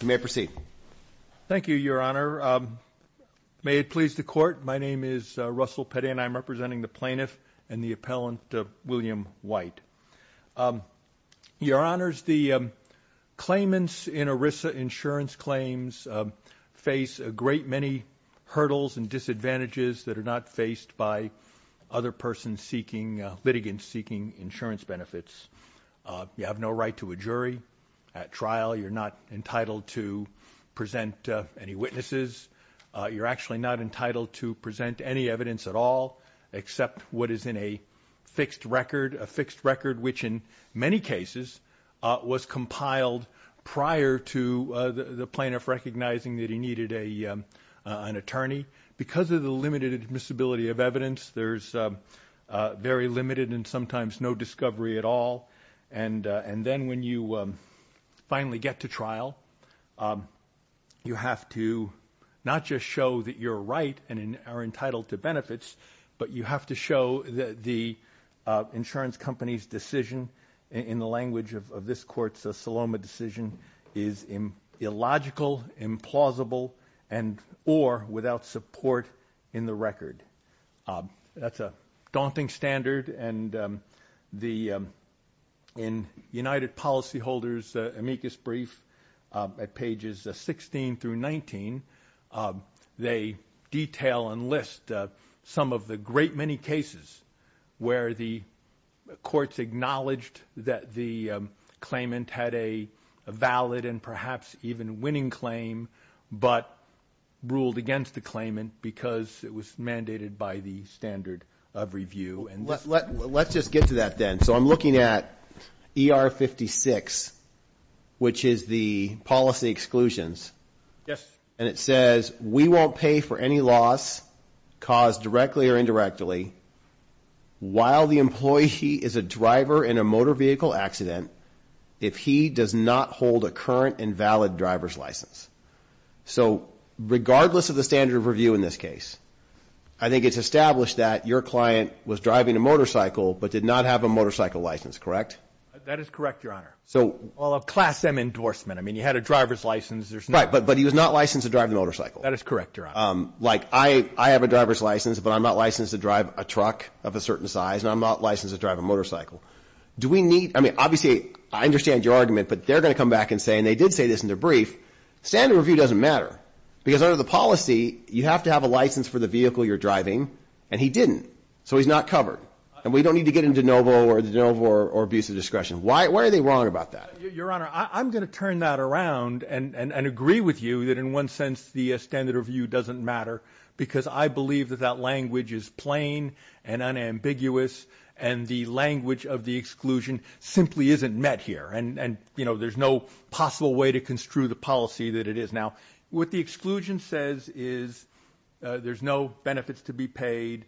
You may proceed. Thank you, Your Honor. May it please the court, my name is Russell Petty and I'm representing the plaintiff and the appellant William White. Your Honors, the claimants in ERISA insurance claims face a great many hurdles and disadvantages that are not faced by other persons seeking, litigants seeking insurance benefits. You have no right to a jury at trial. You're not entitled to present any witnesses. You're actually not entitled to present any evidence at all except what is in a fixed record, a fixed record which in many cases was compiled prior to the plaintiff recognizing that he needed an attorney. Because of the limited admissibility of evidence, there's very limited and sometimes no discovery at all, and then when you finally get to trial, you have to not just show that you're right and are entitled to benefits, but you have to show that the insurance company's decision in the language of this court's Saloma decision is illogical, implausible, and or without support in the record. That's a daunting standard and in United Policyholders amicus brief at pages 16 through 19, they detail and list some of the great many cases where the courts acknowledged that the claimant had a valid and perhaps even winning claim, but ruled against the claimant because it was mandated by the standard of review. Let's just get to that then. So I'm looking at ER 56, which is the policy exclusions. So regardless of the standard of review in this case, I think it's established that your client was driving a motorcycle but did not have a motorcycle license, correct? That is correct, Your Honor. Well, a class M endorsement. I mean, you had a driver's license. Right, but he was not licensed to drive the motorcycle. That is correct, Your Honor. Like, I have a driver's license, but I'm not licensed to drive a truck of a certain size, and I'm not licensed to drive a motorcycle. Do we need, I mean, obviously, I understand your argument, but they're going to come back and say, and they did say this in their brief, standard of review doesn't matter. Because under the policy, you have to have a license for the vehicle you're driving, and he didn't. So he's not covered, and we don't need to get into de novo or abuse of discretion. Why are they wrong about that? Your Honor, I'm going to turn that around and agree with you that in one sense the standard of review doesn't matter, because I believe that that language is plain and unambiguous, and the language of the exclusion simply isn't met here, and, you know, there's no possible way to construe the policy that it is. Now, what the exclusion says is there's no benefits to be paid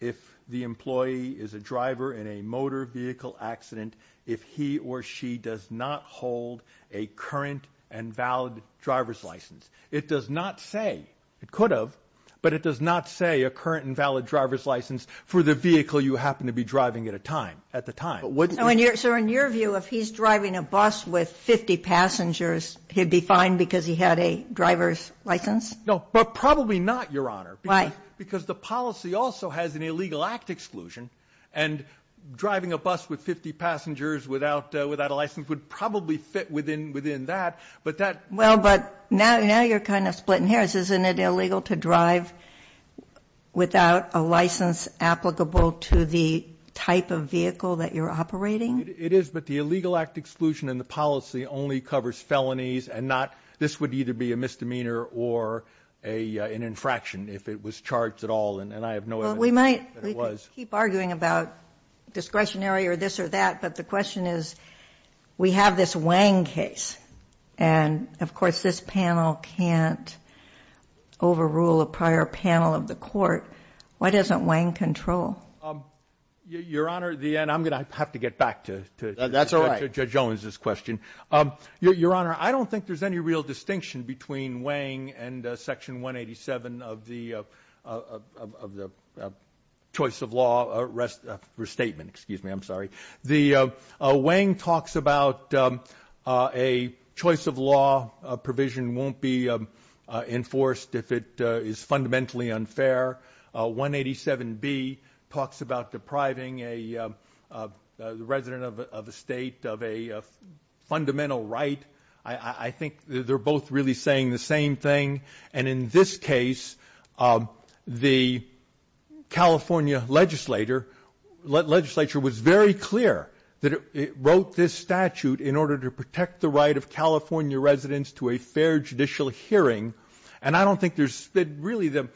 if the employee is a driver in a motor vehicle accident if he or she does not hold a current and valid driver's license. It does not say, it could have, but it does not say a current and valid driver's license for the vehicle you happen to be driving at a time, at the time. So in your view, if he's driving a bus with 50 passengers, he'd be fine because he had a driver's license? No, but probably not, Your Honor. Why? Because the policy also has an illegal act exclusion, and driving a bus with 50 passengers without a license would probably fit within that. Well, but now you're kind of splitting hairs. Isn't it illegal to drive without a license applicable to the type of vehicle that you're operating? It is, but the illegal act exclusion in the policy only covers felonies and not this would either be a misdemeanor or an infraction if it was charged at all, and I have no evidence that it was. Well, we might keep arguing about discretionary or this or that, but the question is, we have this Wang case, and of course this panel can't overrule a prior panel of the court. Why doesn't Wang control? Your Honor, and I'm going to have to get back to Judge Owens' question. Your Honor, I don't think there's any real distinction between Wang and Section 187 of the choice of law restatement. Excuse me, I'm sorry. Wang talks about a choice of law provision won't be enforced if it is fundamentally unfair. 187B talks about depriving a resident of a state of a fundamental right. I think they're both really saying the same thing, and in this case, the California legislature was very clear that it wrote this statute in order to protect the right of California residents to a fair judicial hearing, and I don't think there's really the,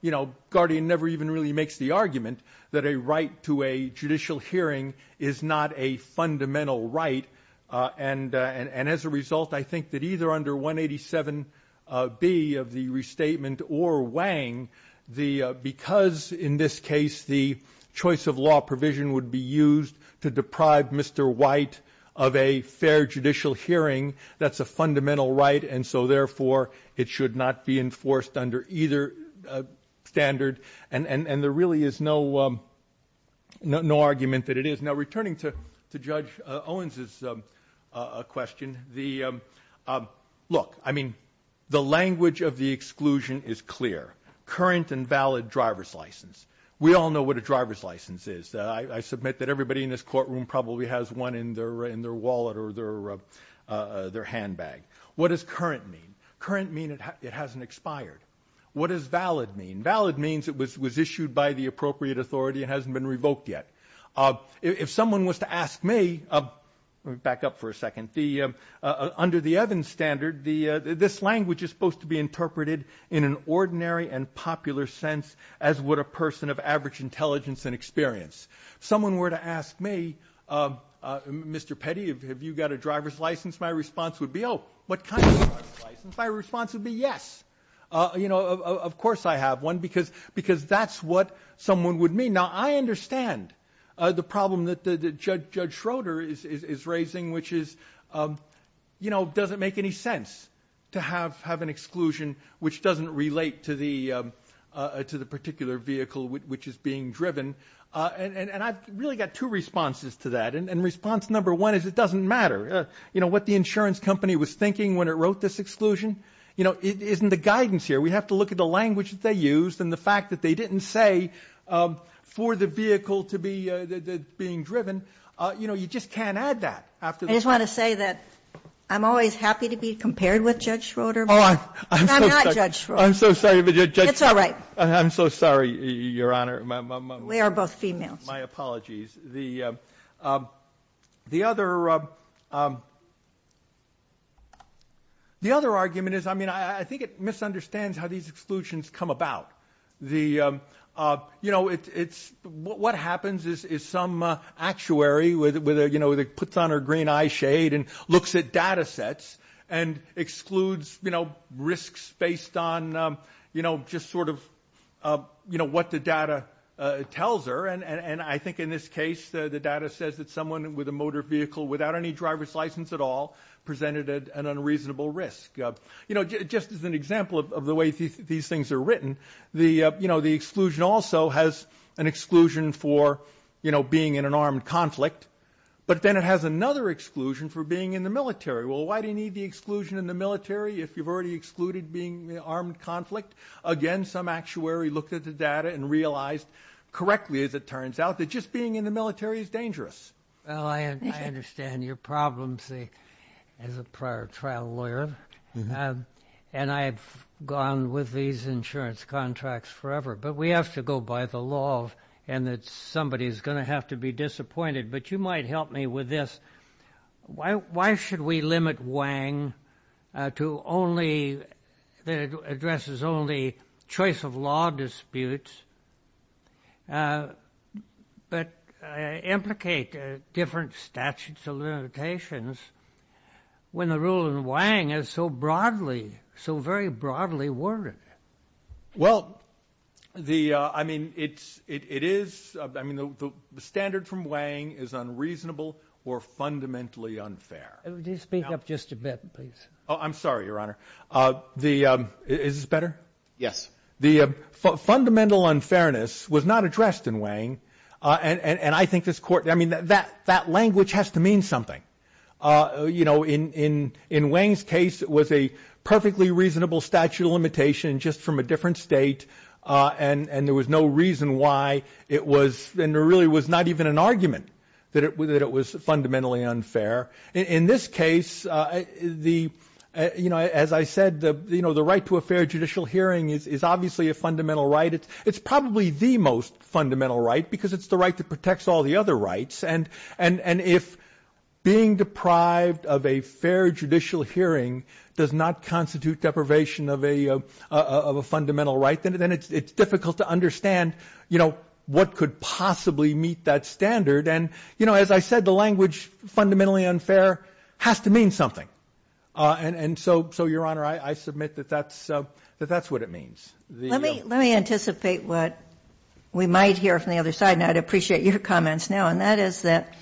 you know, Guardian never even really makes the argument that a right to a judicial hearing is not a fundamental right, and as a result, I think that either under 187B of the restatement or Wang, because in this case the choice of law provision would be used to deprive Mr. White of a fair judicial hearing, that's a fundamental right, and so therefore it should not be enforced under either standard, and there really is no argument that it is. Now, returning to Judge Owens' question, look, I mean, the language of the exclusion is clear. Current and valid driver's license. We all know what a driver's license is. I submit that everybody in this courtroom probably has one in their wallet or their handbag. What does current mean? Current means it hasn't expired. What does valid mean? Valid means it was issued by the appropriate authority and hasn't been revoked yet. If someone was to ask me, back up for a second, under the Evans standard, this language is supposed to be interpreted in an ordinary and popular sense as would a person of average intelligence and experience. If someone were to ask me, Mr. Petty, have you got a driver's license, my response would be, oh, what kind of driver's license? My response would be yes. You know, of course I have one, because that's what someone would mean. Now, I understand the problem that Judge Schroeder is raising, which is, you know, does it make any sense to have an exclusion which doesn't relate to the particular vehicle which is being driven? And I've really got two responses to that, and response number one is it doesn't matter. You know, what the insurance company was thinking when it wrote this exclusion, you know, isn't the guidance here. We have to look at the language that they used and the fact that they didn't say for the vehicle to be being driven. You know, you just can't add that. I just want to say that I'm always happy to be compared with Judge Schroeder, but I'm not Judge Schroeder. I'm so sorry. It's all right. I'm so sorry, Your Honor. We are both females. My apologies. The other argument is, I mean, I think it misunderstands how these exclusions come about. You know, what happens is some actuary puts on her green eye shade and looks at data sets and excludes risks based on, you know, just sort of what the data tells her, and I think in this case the data says that someone with a motor vehicle without any driver's license at all presented an unreasonable risk. You know, just as an example of the way these things are written, you know, the exclusion also has an exclusion for, you know, being in an armed conflict, but then it has another exclusion for being in the military. Well, why do you need the exclusion in the military if you've already excluded being in an armed conflict? Again, some actuary looked at the data and realized correctly, as it turns out, that just being in the military is dangerous. Well, I understand your problems as a prior trial lawyer, and I've gone with these insurance contracts forever, but we have to go by the law and that somebody's going to have to be disappointed, but you might help me with this. Why should we limit Wang to only addresses only choice-of-law disputes but implicate different statutes of limitations when the rule in Wang is so broadly, so very broadly worded? Well, I mean, the standard from Wang is unreasonable or fundamentally unfair. Speak up just a bit, please. Oh, I'm sorry, Your Honor. Is this better? Yes. The fundamental unfairness was not addressed in Wang, and I think this court, I mean, that language has to mean something. In Wang's case, it was a perfectly reasonable statute of limitation just from a different state, and there was no reason why it was, and there really was not even an argument that it was fundamentally unfair. In this case, as I said, the right to a fair judicial hearing is obviously a fundamental right. It's probably the most fundamental right because it's the right that protects all the other rights, and if being deprived of a fair judicial hearing does not constitute deprivation of a fundamental right, then it's difficult to understand, you know, what could possibly meet that standard, and, you know, as I said, the language fundamentally unfair has to mean something, and so, Your Honor, I submit that that's what it means. Let me anticipate what we might hear from the other side, and I'd appreciate your comments now, and that is that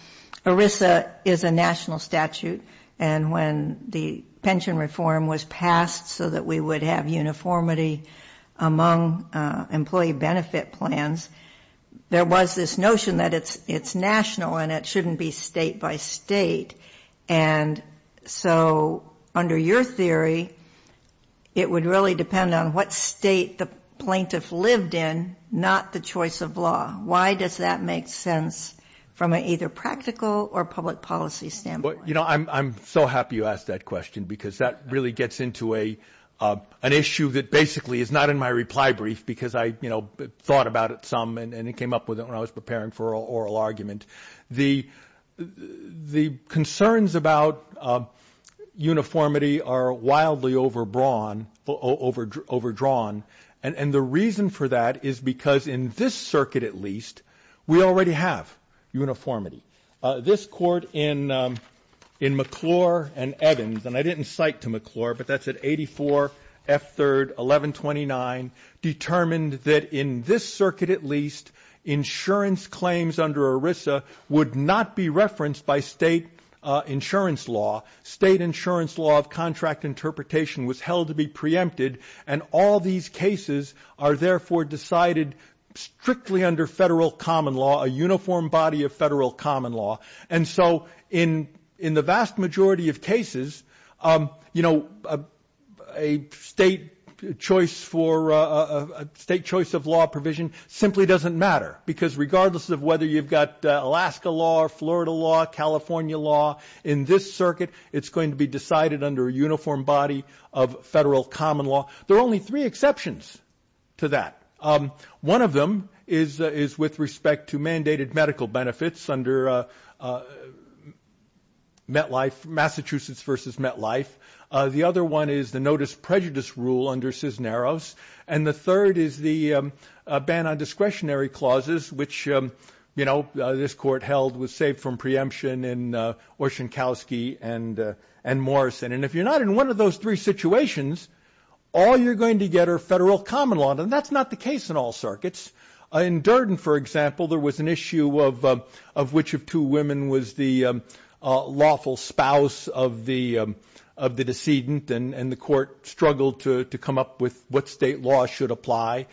ERISA is a national statute, and when the pension reform was passed so that we would have uniformity among employee benefit plans, there was this notion that it's national and it shouldn't be state by state, and so under your theory, it would really depend on what state the plaintiff lived in, not the choice of law. Why does that make sense from an either practical or public policy standpoint? You know, I'm so happy you asked that question because that really gets into an issue that basically is not in my reply brief because I, you know, thought about it some and came up with it when I was preparing for oral argument. The concerns about uniformity are wildly overdrawn, and the reason for that is because in this circuit, at least, we already have uniformity. This court in McClure and Evans, and I didn't cite to McClure, but that's at 84 F. 3rd, 1129, determined that in this circuit, at least, insurance claims under ERISA would not be referenced by state insurance law. State insurance law of contract interpretation was held to be preempted, and all these cases are therefore decided strictly under federal common law, a uniform body of federal common law, and so in the vast majority of cases, you know, a state choice of law provision simply doesn't matter because regardless of whether you've got Alaska law or Florida law, California law, in this circuit, it's going to be decided under a uniform body of federal common law. There are only three exceptions to that. One of them is with respect to mandated medical benefits under Massachusetts v. MetLife. The other one is the notice prejudice rule under Cisneros, and the third is the ban on discretionary clauses, which, you know, this court held was saved from preemption in Oshinkowski and Morrison, and if you're not in one of those three situations, all you're going to get are federal common law, and that's not the case in all circuits. In Durden, for example, there was an issue of which of two women was the lawful spouse of the decedent, and the court struggled to come up with what state law should apply.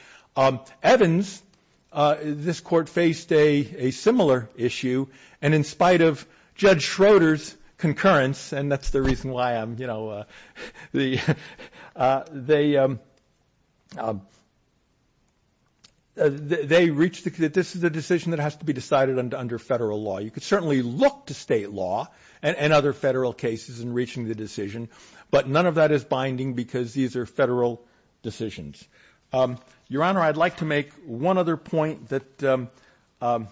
Evans, this court faced a similar issue, and in spite of Judge Schroeder's concurrence, and that's the reason why I'm, you know, they reached that this is a decision that has to be decided under federal law. You could certainly look to state law and other federal cases in reaching the decision, but none of that is binding because these are federal decisions. Your Honor, I'd like to make one other point that I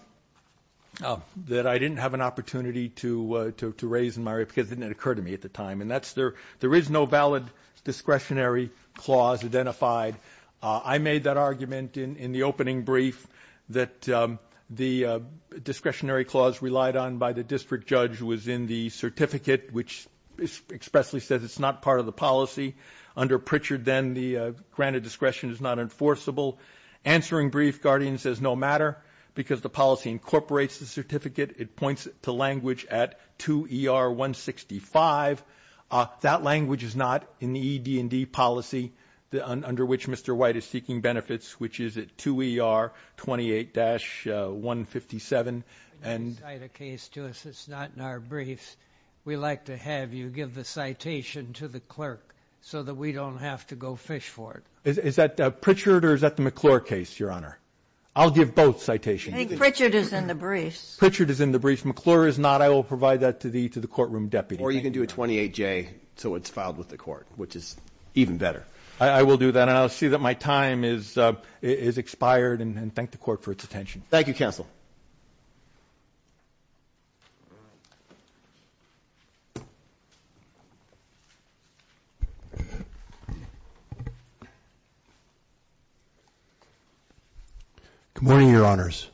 didn't have an opportunity to raise in my report because it didn't occur to me at the time, and that's there is no valid discretionary clause identified. I made that argument in the opening brief that the discretionary clause relied on by the district judge was in the certificate, which expressly says it's not part of the policy. Under Pritchard, then, the grant of discretion is not enforceable. Answering brief, guardian says no matter because the policy incorporates the certificate. It points to language at 2ER165. That language is not in the ED&D policy under which Mr. White is seeking benefits, which is at 2ER28-157. You can cite a case to us that's not in our briefs. We like to have you give the citation to the clerk so that we don't have to go fish for it. Is that Pritchard or is that the McClure case, Your Honor? I'll give both citations. I think Pritchard is in the briefs. Pritchard is in the briefs. McClure is not. I will provide that to the courtroom deputy. Or you can do a 28-J so it's filed with the court, which is even better. I will do that, and I'll see that my time is expired, and thank the court for its attention. Thank you, counsel. Good morning, Your Honors.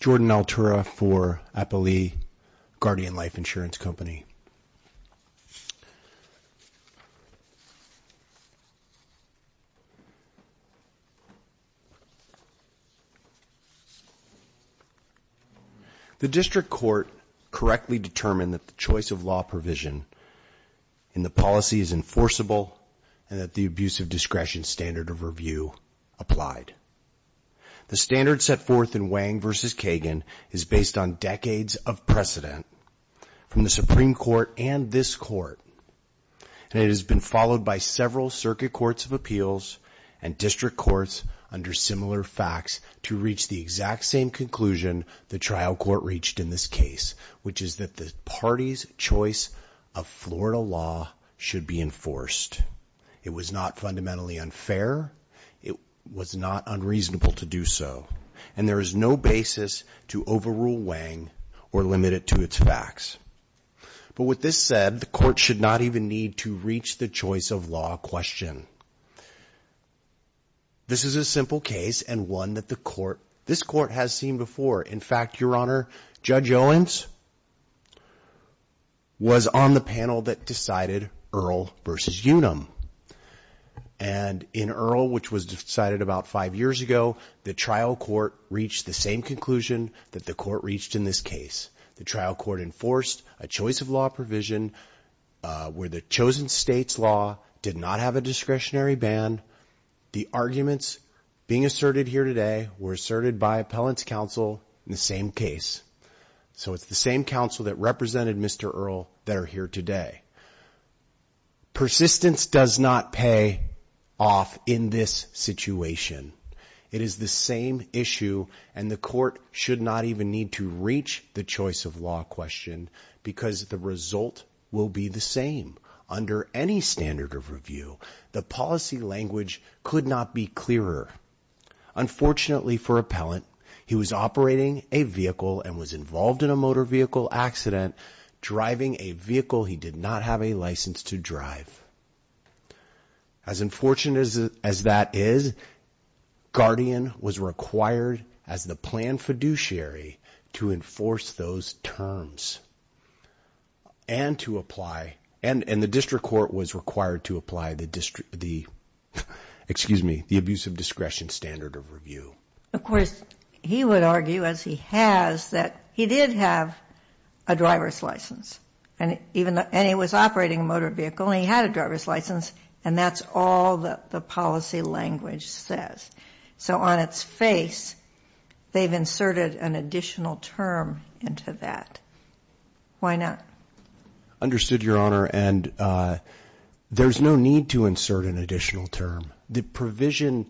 Jordan Altura for Appalee Guardian Life Insurance Company. The district court correctly determined that the choice of law provision in the policy is enforceable and that the abuse of discretion standard of review applied. The standard set forth in Wang v. Kagan is based on decades of precedent from the Supreme Court and this court, and it has been followed by several circuit courts of appeals and district courts under similar facts to reach the exact same conclusion the trial court reached in this case, which is that the party's choice of Florida law should be enforced. It was not fundamentally unfair. It was not unreasonable to do so, and there is no basis to overrule Wang or limit it to its facts. But with this said, the court should not even need to reach the choice of law question. This is a simple case and one that this court has seen before. In fact, Your Honor, Judge Owens was on the panel that decided Earl v. Unum, and in Earl, which was decided about five years ago, the trial court reached the same conclusion that the court reached in this case. The trial court enforced a choice of law provision where the chosen state's law did not have a discretionary ban. The arguments being asserted here today were asserted by appellant's counsel in the same case. So it's the same counsel that represented Mr. Earl that are here today. Persistence does not pay off in this situation. It is the same issue, and the court should not even need to reach the choice of law question, because the result will be the same under any standard of review. The policy language could not be clearer. Unfortunately for appellant, he was operating a vehicle and was involved in a motor vehicle accident, driving a vehicle he did not have a license to drive. As unfortunate as that is, Guardian was required as the planned fiduciary to enforce those terms and the district court was required to apply the abuse of discretion standard of review. Of course, he would argue, as he has, that he did have a driver's license, and he was operating a motor vehicle and he had a driver's license, and that's all that the policy language says. So on its face, they've inserted an additional term into that. Why not? Understood, Your Honor, and there's no need to insert an additional term. The provision,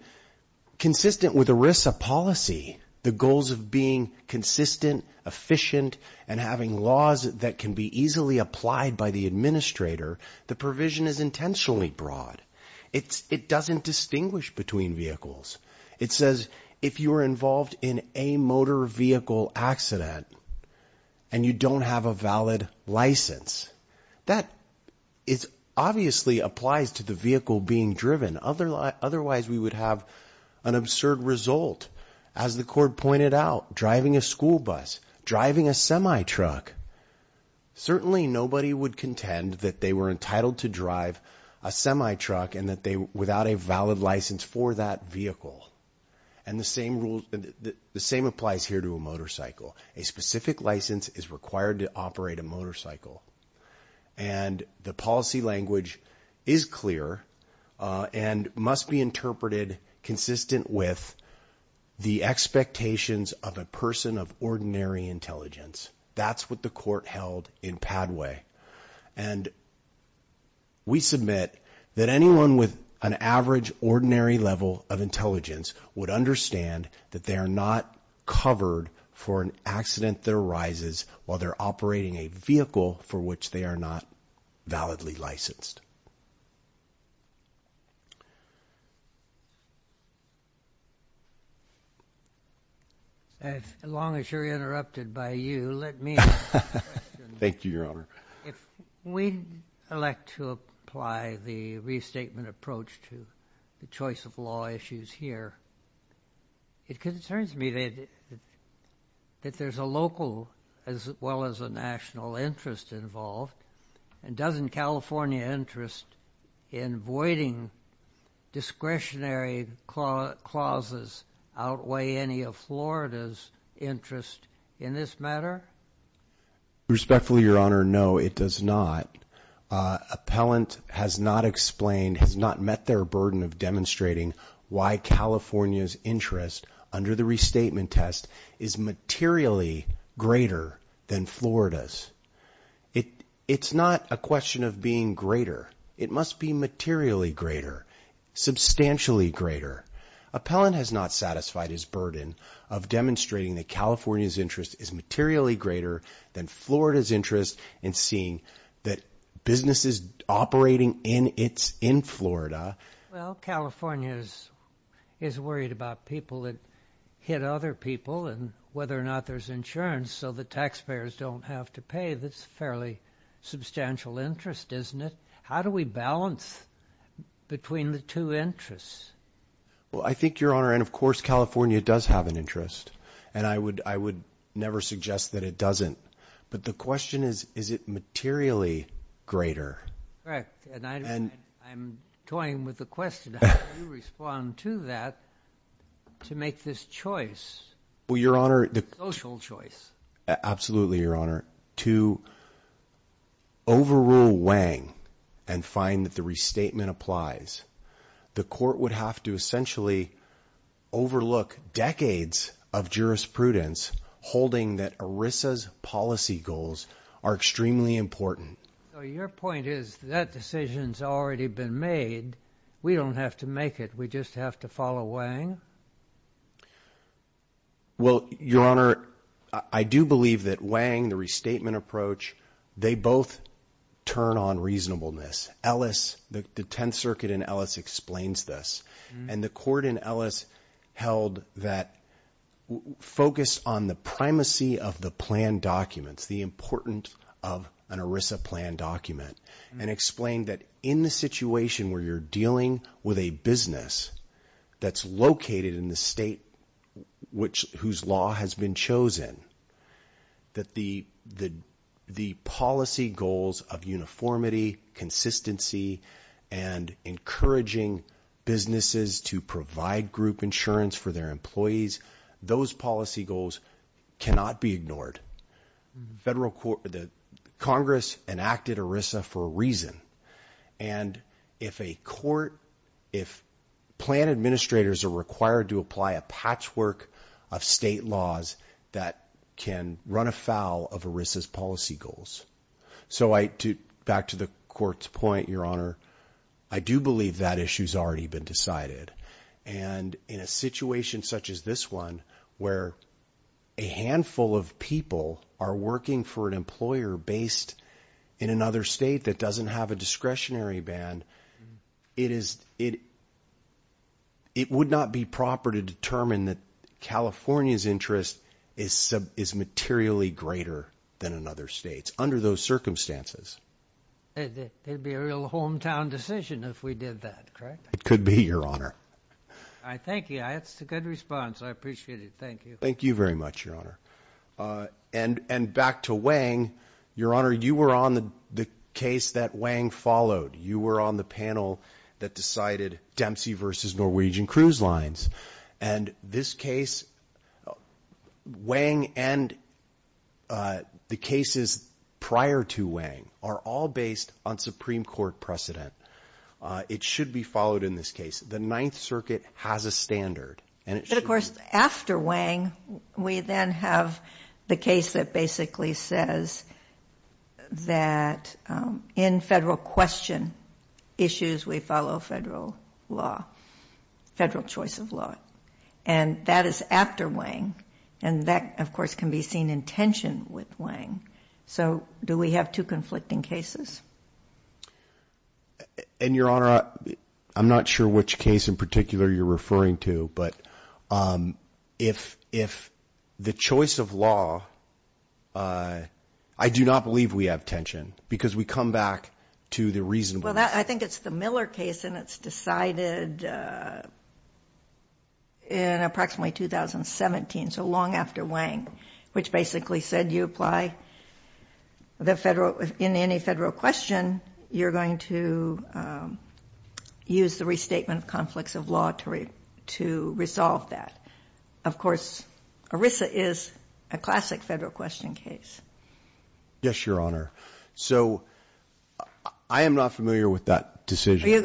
consistent with ERISA policy, the goals of being consistent, efficient, and having laws that can be easily applied by the administrator, the provision is intentionally broad. It doesn't distinguish between vehicles. It says, if you are involved in a motor vehicle accident and you don't have a valid license, that obviously applies to the vehicle being driven. Otherwise, we would have an absurd result. As the court pointed out, driving a school bus, driving a semi-truck, certainly nobody would contend that they were entitled to drive a semi-truck and that they were without a valid license for that vehicle. And the same applies here to a motorcycle. A specific license is required to operate a motorcycle, and the policy language is clear and must be interpreted consistent with the expectations of a person of ordinary intelligence. That's what the court held in Padway, and we submit that anyone with an average ordinary level of intelligence would understand that they are not covered for an accident that arises while they're operating a vehicle for which they are not validly licensed. As long as you're interrupted by you, let me ask a question. Thank you, Your Honor. If we elect to apply the restatement approach to the choice of law issues here, it concerns me that there's a local as well as a national interest involved, and doesn't California interest in voiding discretionary clauses outweigh any of Florida's interest in this matter? Respectfully, Your Honor, no, it does not. Appellant has not explained, has not met their burden of demonstrating why California's interest under the restatement test is materially greater than Florida's. It's not a question of being greater. It must be materially greater, substantially greater. Appellant has not satisfied his burden of demonstrating that California's interest is materially greater than Florida's interest in seeing that businesses operating in Florida... Well, California is worried about people that hit other people and whether or not there's insurance so that taxpayers don't have to pay. That's a fairly substantial interest, isn't it? How do we balance between the two interests? Well, I think, Your Honor, and of course California does have an interest, and I would never suggest that it doesn't. But the question is, is it materially greater? Correct, and I'm toying with the question. How do you respond to that to make this choice? Well, Your Honor... Social choice. Absolutely, Your Honor. to overrule Wang and find that the restatement applies, the court would have to essentially overlook decades of jurisprudence holding that ERISA's policy goals are extremely important. So your point is that decision's already been made. We don't have to make it. We just have to follow Wang? Well, Your Honor, I do believe that Wang, the restatement approach, they both turn on reasonableness. Ellis, the Tenth Circuit in Ellis, explains this. And the court in Ellis held that focus on the primacy of the plan documents, the importance of an ERISA plan document, and explained that in the situation where you're dealing with a business that's located in the state whose law has been chosen, that the policy goals of uniformity, consistency, and encouraging businesses to provide group insurance for their employees, those policy goals cannot be ignored. Congress enacted ERISA for a reason. And if a court, if plan administrators are required to apply a patchwork of state laws that can run afoul of ERISA's policy goals. So back to the court's point, Your Honor, I do believe that issue's already been decided. And in a situation such as this one, where a handful of people are working for an employer based in another state that doesn't have a discretionary ban, it would not be proper to determine that California's interest is materially greater than in other states under those circumstances. It'd be a real hometown decision if we did that, correct? It could be, Your Honor. Thank you. That's a good response. I appreciate it. Thank you. Thank you very much, Your Honor. And back to Wang, Your Honor, you were on the case that Wang followed. You were on the panel that decided Dempsey versus Norwegian Cruise Lines. And this case, Wang and the cases prior to Wang are all based on Supreme Court precedent. It should be followed in this case. The Ninth Circuit has a standard. But, of course, after Wang, we then have the case that basically says that in federal question issues, we follow federal law, federal choice of law. And that is after Wang. And that, of course, can be seen in tension with Wang. So do we have two conflicting cases? And, Your Honor, I'm not sure which case in particular you're referring to, but if the choice of law, I do not believe we have tension because we come back to the reasonableness. Well, I think it's the Miller case, and it's decided in approximately 2017, so long after Wang, which basically said you apply in any federal question, you're going to use the restatement of conflicts of law to resolve that. Of course, ERISA is a classic federal question case. Yes, Your Honor. So I am not familiar with that decision.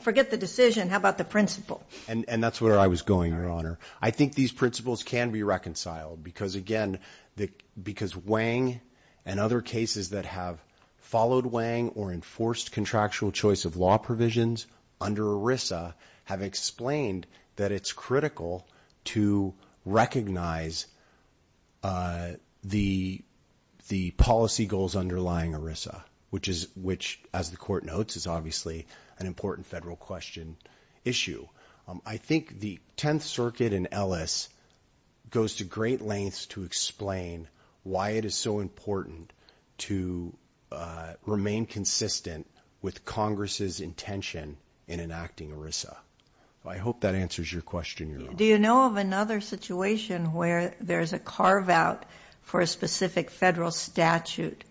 Forget the decision. How about the principle? And that's where I was going, Your Honor. I think these principles can be reconciled because, again, because Wang and other cases that have followed Wang or enforced contractual choice of law provisions under ERISA have explained that it's critical to recognize the policy goals underlying ERISA, which, as the Court notes, is obviously an important federal question issue. I think the Tenth Circuit in Ellis goes to great lengths to explain why it is so important to remain consistent with Congress' intention in enacting ERISA. I hope that answers your question, Your Honor. Do you know of another situation where there's a carve-out for a specific federal statute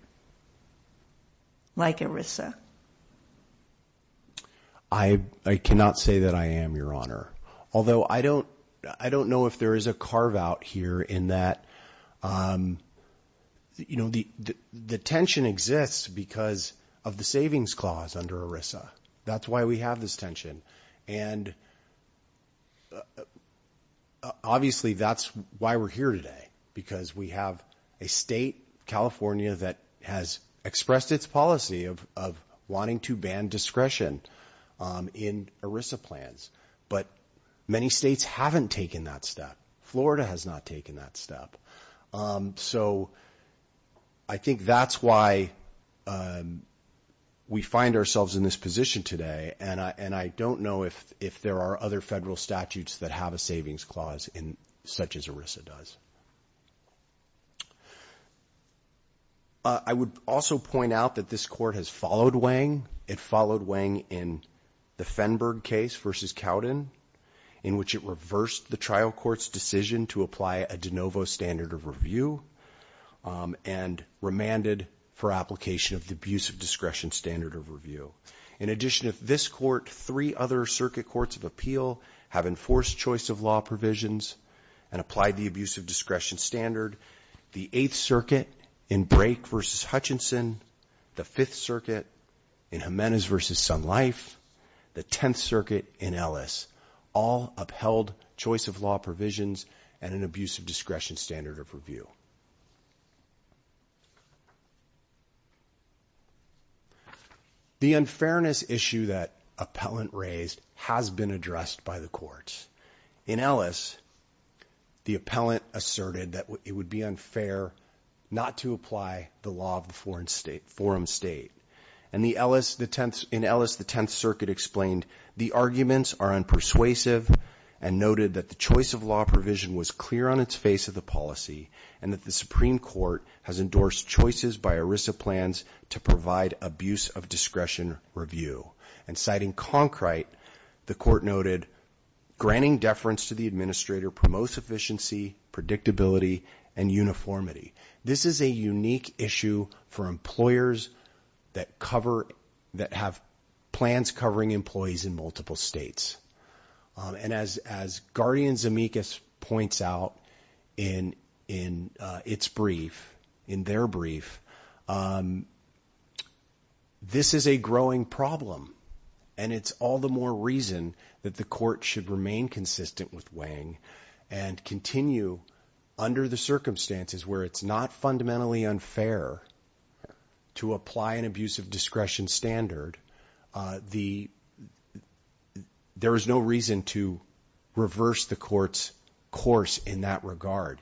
like ERISA? I cannot say that I am, Your Honor, although I don't know if there is a carve-out here in that the tension exists because of the savings clause under ERISA. That's why we have this tension. And obviously that's why we're here today, because we have a state, California, that has expressed its policy of wanting to ban discretion in ERISA plans. But many states haven't taken that step. Florida has not taken that step. So I think that's why we find ourselves in this position today, and I don't know if there are other federal statutes that have a savings clause such as ERISA does. I would also point out that this Court has followed Wang. It followed Wang in the Fenberg case versus Cowden, in which it reversed the trial court's decision to apply a de novo standard of review and remanded for application of the abuse of discretion standard of review. In addition to this Court, three other circuit courts of appeal have enforced choice of law provisions and applied the abuse of discretion standard. The Eighth Circuit in Brake versus Hutchinson, the Fifth Circuit in Jimenez versus Sun Life, the Tenth Circuit in Ellis, all upheld choice of law provisions and an abuse of discretion standard of review. The unfairness issue that appellant raised has been addressed by the courts. In Ellis, the appellant asserted that it would be unfair not to apply the law of the forum state. In Ellis, the Tenth Circuit explained the arguments are unpersuasive and noted that the choice of law provision was clear on its face of the policy and that the Supreme Court has endorsed choices by ERISA plans to provide abuse of discretion review. And citing Concrite, the Court noted, granting deference to the administrator promotes efficiency, predictability, and uniformity. This is a unique issue for employers that have plans covering employees in multiple states. And as Guardian Zemeckis points out in its brief, in their brief, this is a growing problem. And it's all the more reason that the Court should remain consistent with weighing and continue under the circumstances where it's not fundamentally unfair to apply an abuse of discretion standard. There is no reason to reverse the Court's course in that regard.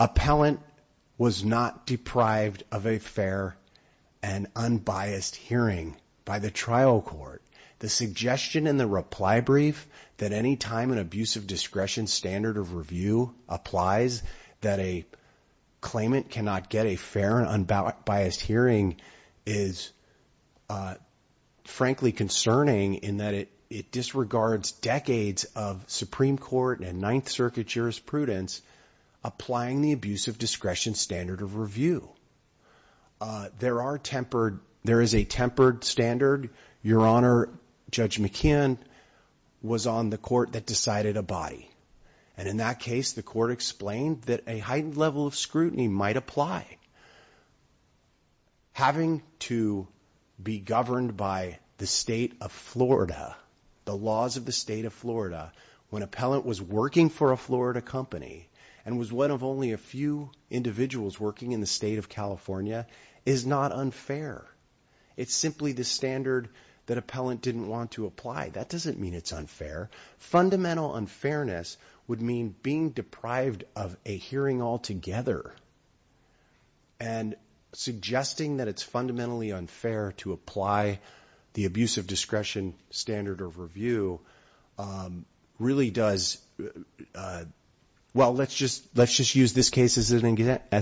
Appellant was not deprived of a fair and unbiased hearing by the trial court. The suggestion in the reply brief that any time an abuse of discretion standard of review applies that a claimant cannot get a fair and unbiased hearing is frankly concerning in that it disregards decades of Supreme Court and Ninth Circuit jurisprudence applying the abuse of discretion standard of review. There is a tempered standard. Your Honor, Judge McKeon was on the Court that decided a body. And in that case, the Court explained that a heightened level of scrutiny might apply. Having to be governed by the state of Florida, the laws of the state of Florida, when appellant was working for a Florida company and was one of only a few individuals working in the state of California, is not unfair. It's simply the standard that appellant didn't want to apply. That doesn't mean it's unfair. Fundamental unfairness would mean being deprived of a hearing altogether. And suggesting that it's fundamentally unfair to apply the abuse of discretion standard of review really does, well, let's just use this case as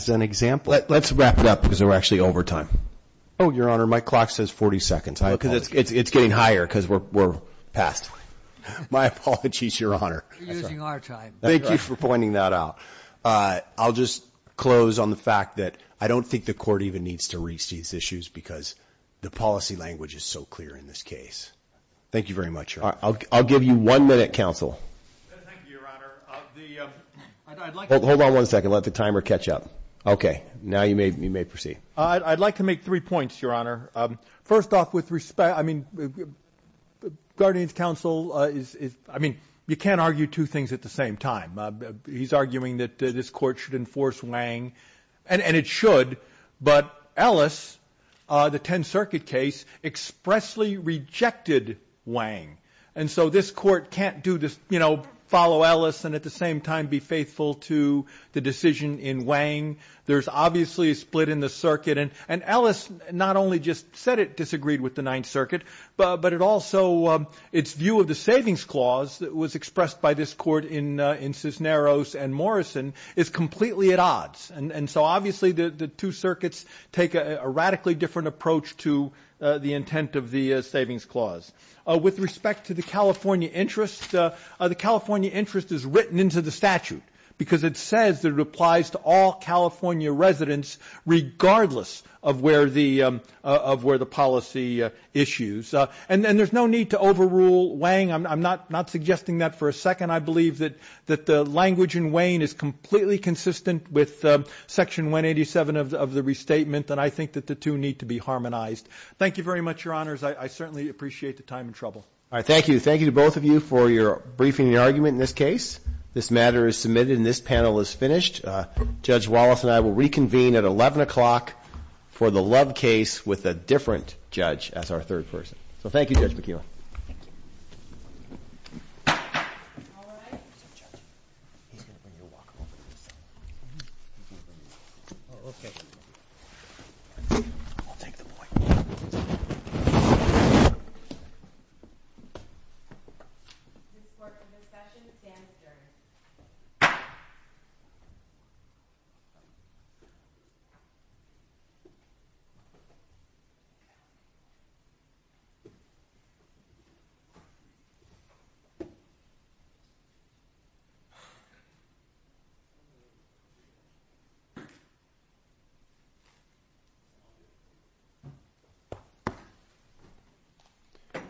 an example. Let's wrap it up because we're actually over time. Oh, Your Honor, my clock says 40 seconds. It's getting higher because we're past. My apologies, Your Honor. We're using our time. Thank you for pointing that out. I'll just close on the fact that I don't think the Court even needs to reach these issues because the policy language is so clear in this case. Thank you very much, Your Honor. I'll give you one minute, counsel. Thank you, Your Honor. Hold on one second. Let the timer catch up. Okay. Now you may proceed. I'd like to make three points, Your Honor. First off, with respect, I mean, Guardian's counsel is, I mean, you can't argue two things at the same time. He's arguing that this Court should enforce Wang, and it should. But Ellis, the Tenth Circuit case, expressly rejected Wang. And so this Court can't do this, you know, follow Ellis and at the same time be faithful to the decision in Wang. There's obviously a split in the circuit. And Ellis not only just said it disagreed with the Ninth Circuit, but it also, its view of the savings clause that was expressed by this Court in Cisneros and Morrison is completely at odds. And so obviously the two circuits take a radically different approach to the intent of the savings clause. With respect to the California interest, the California interest is written into the statute because it says that it applies to all California residents regardless of where the policy issues. And there's no need to overrule Wang. I'm not suggesting that for a second. I believe that the language in Wang is completely consistent with Section 187 of the restatement, and I think that the two need to be harmonized. Thank you very much, Your Honors. I certainly appreciate the time and trouble. All right, thank you. Thank you to both of you for your briefing and argument in this case. This matter is submitted and this panel is finished. Judge Wallace and I will reconvene at 11 o'clock for the Love case with a different judge as our third person. So thank you, Judge McKeon. Thank you.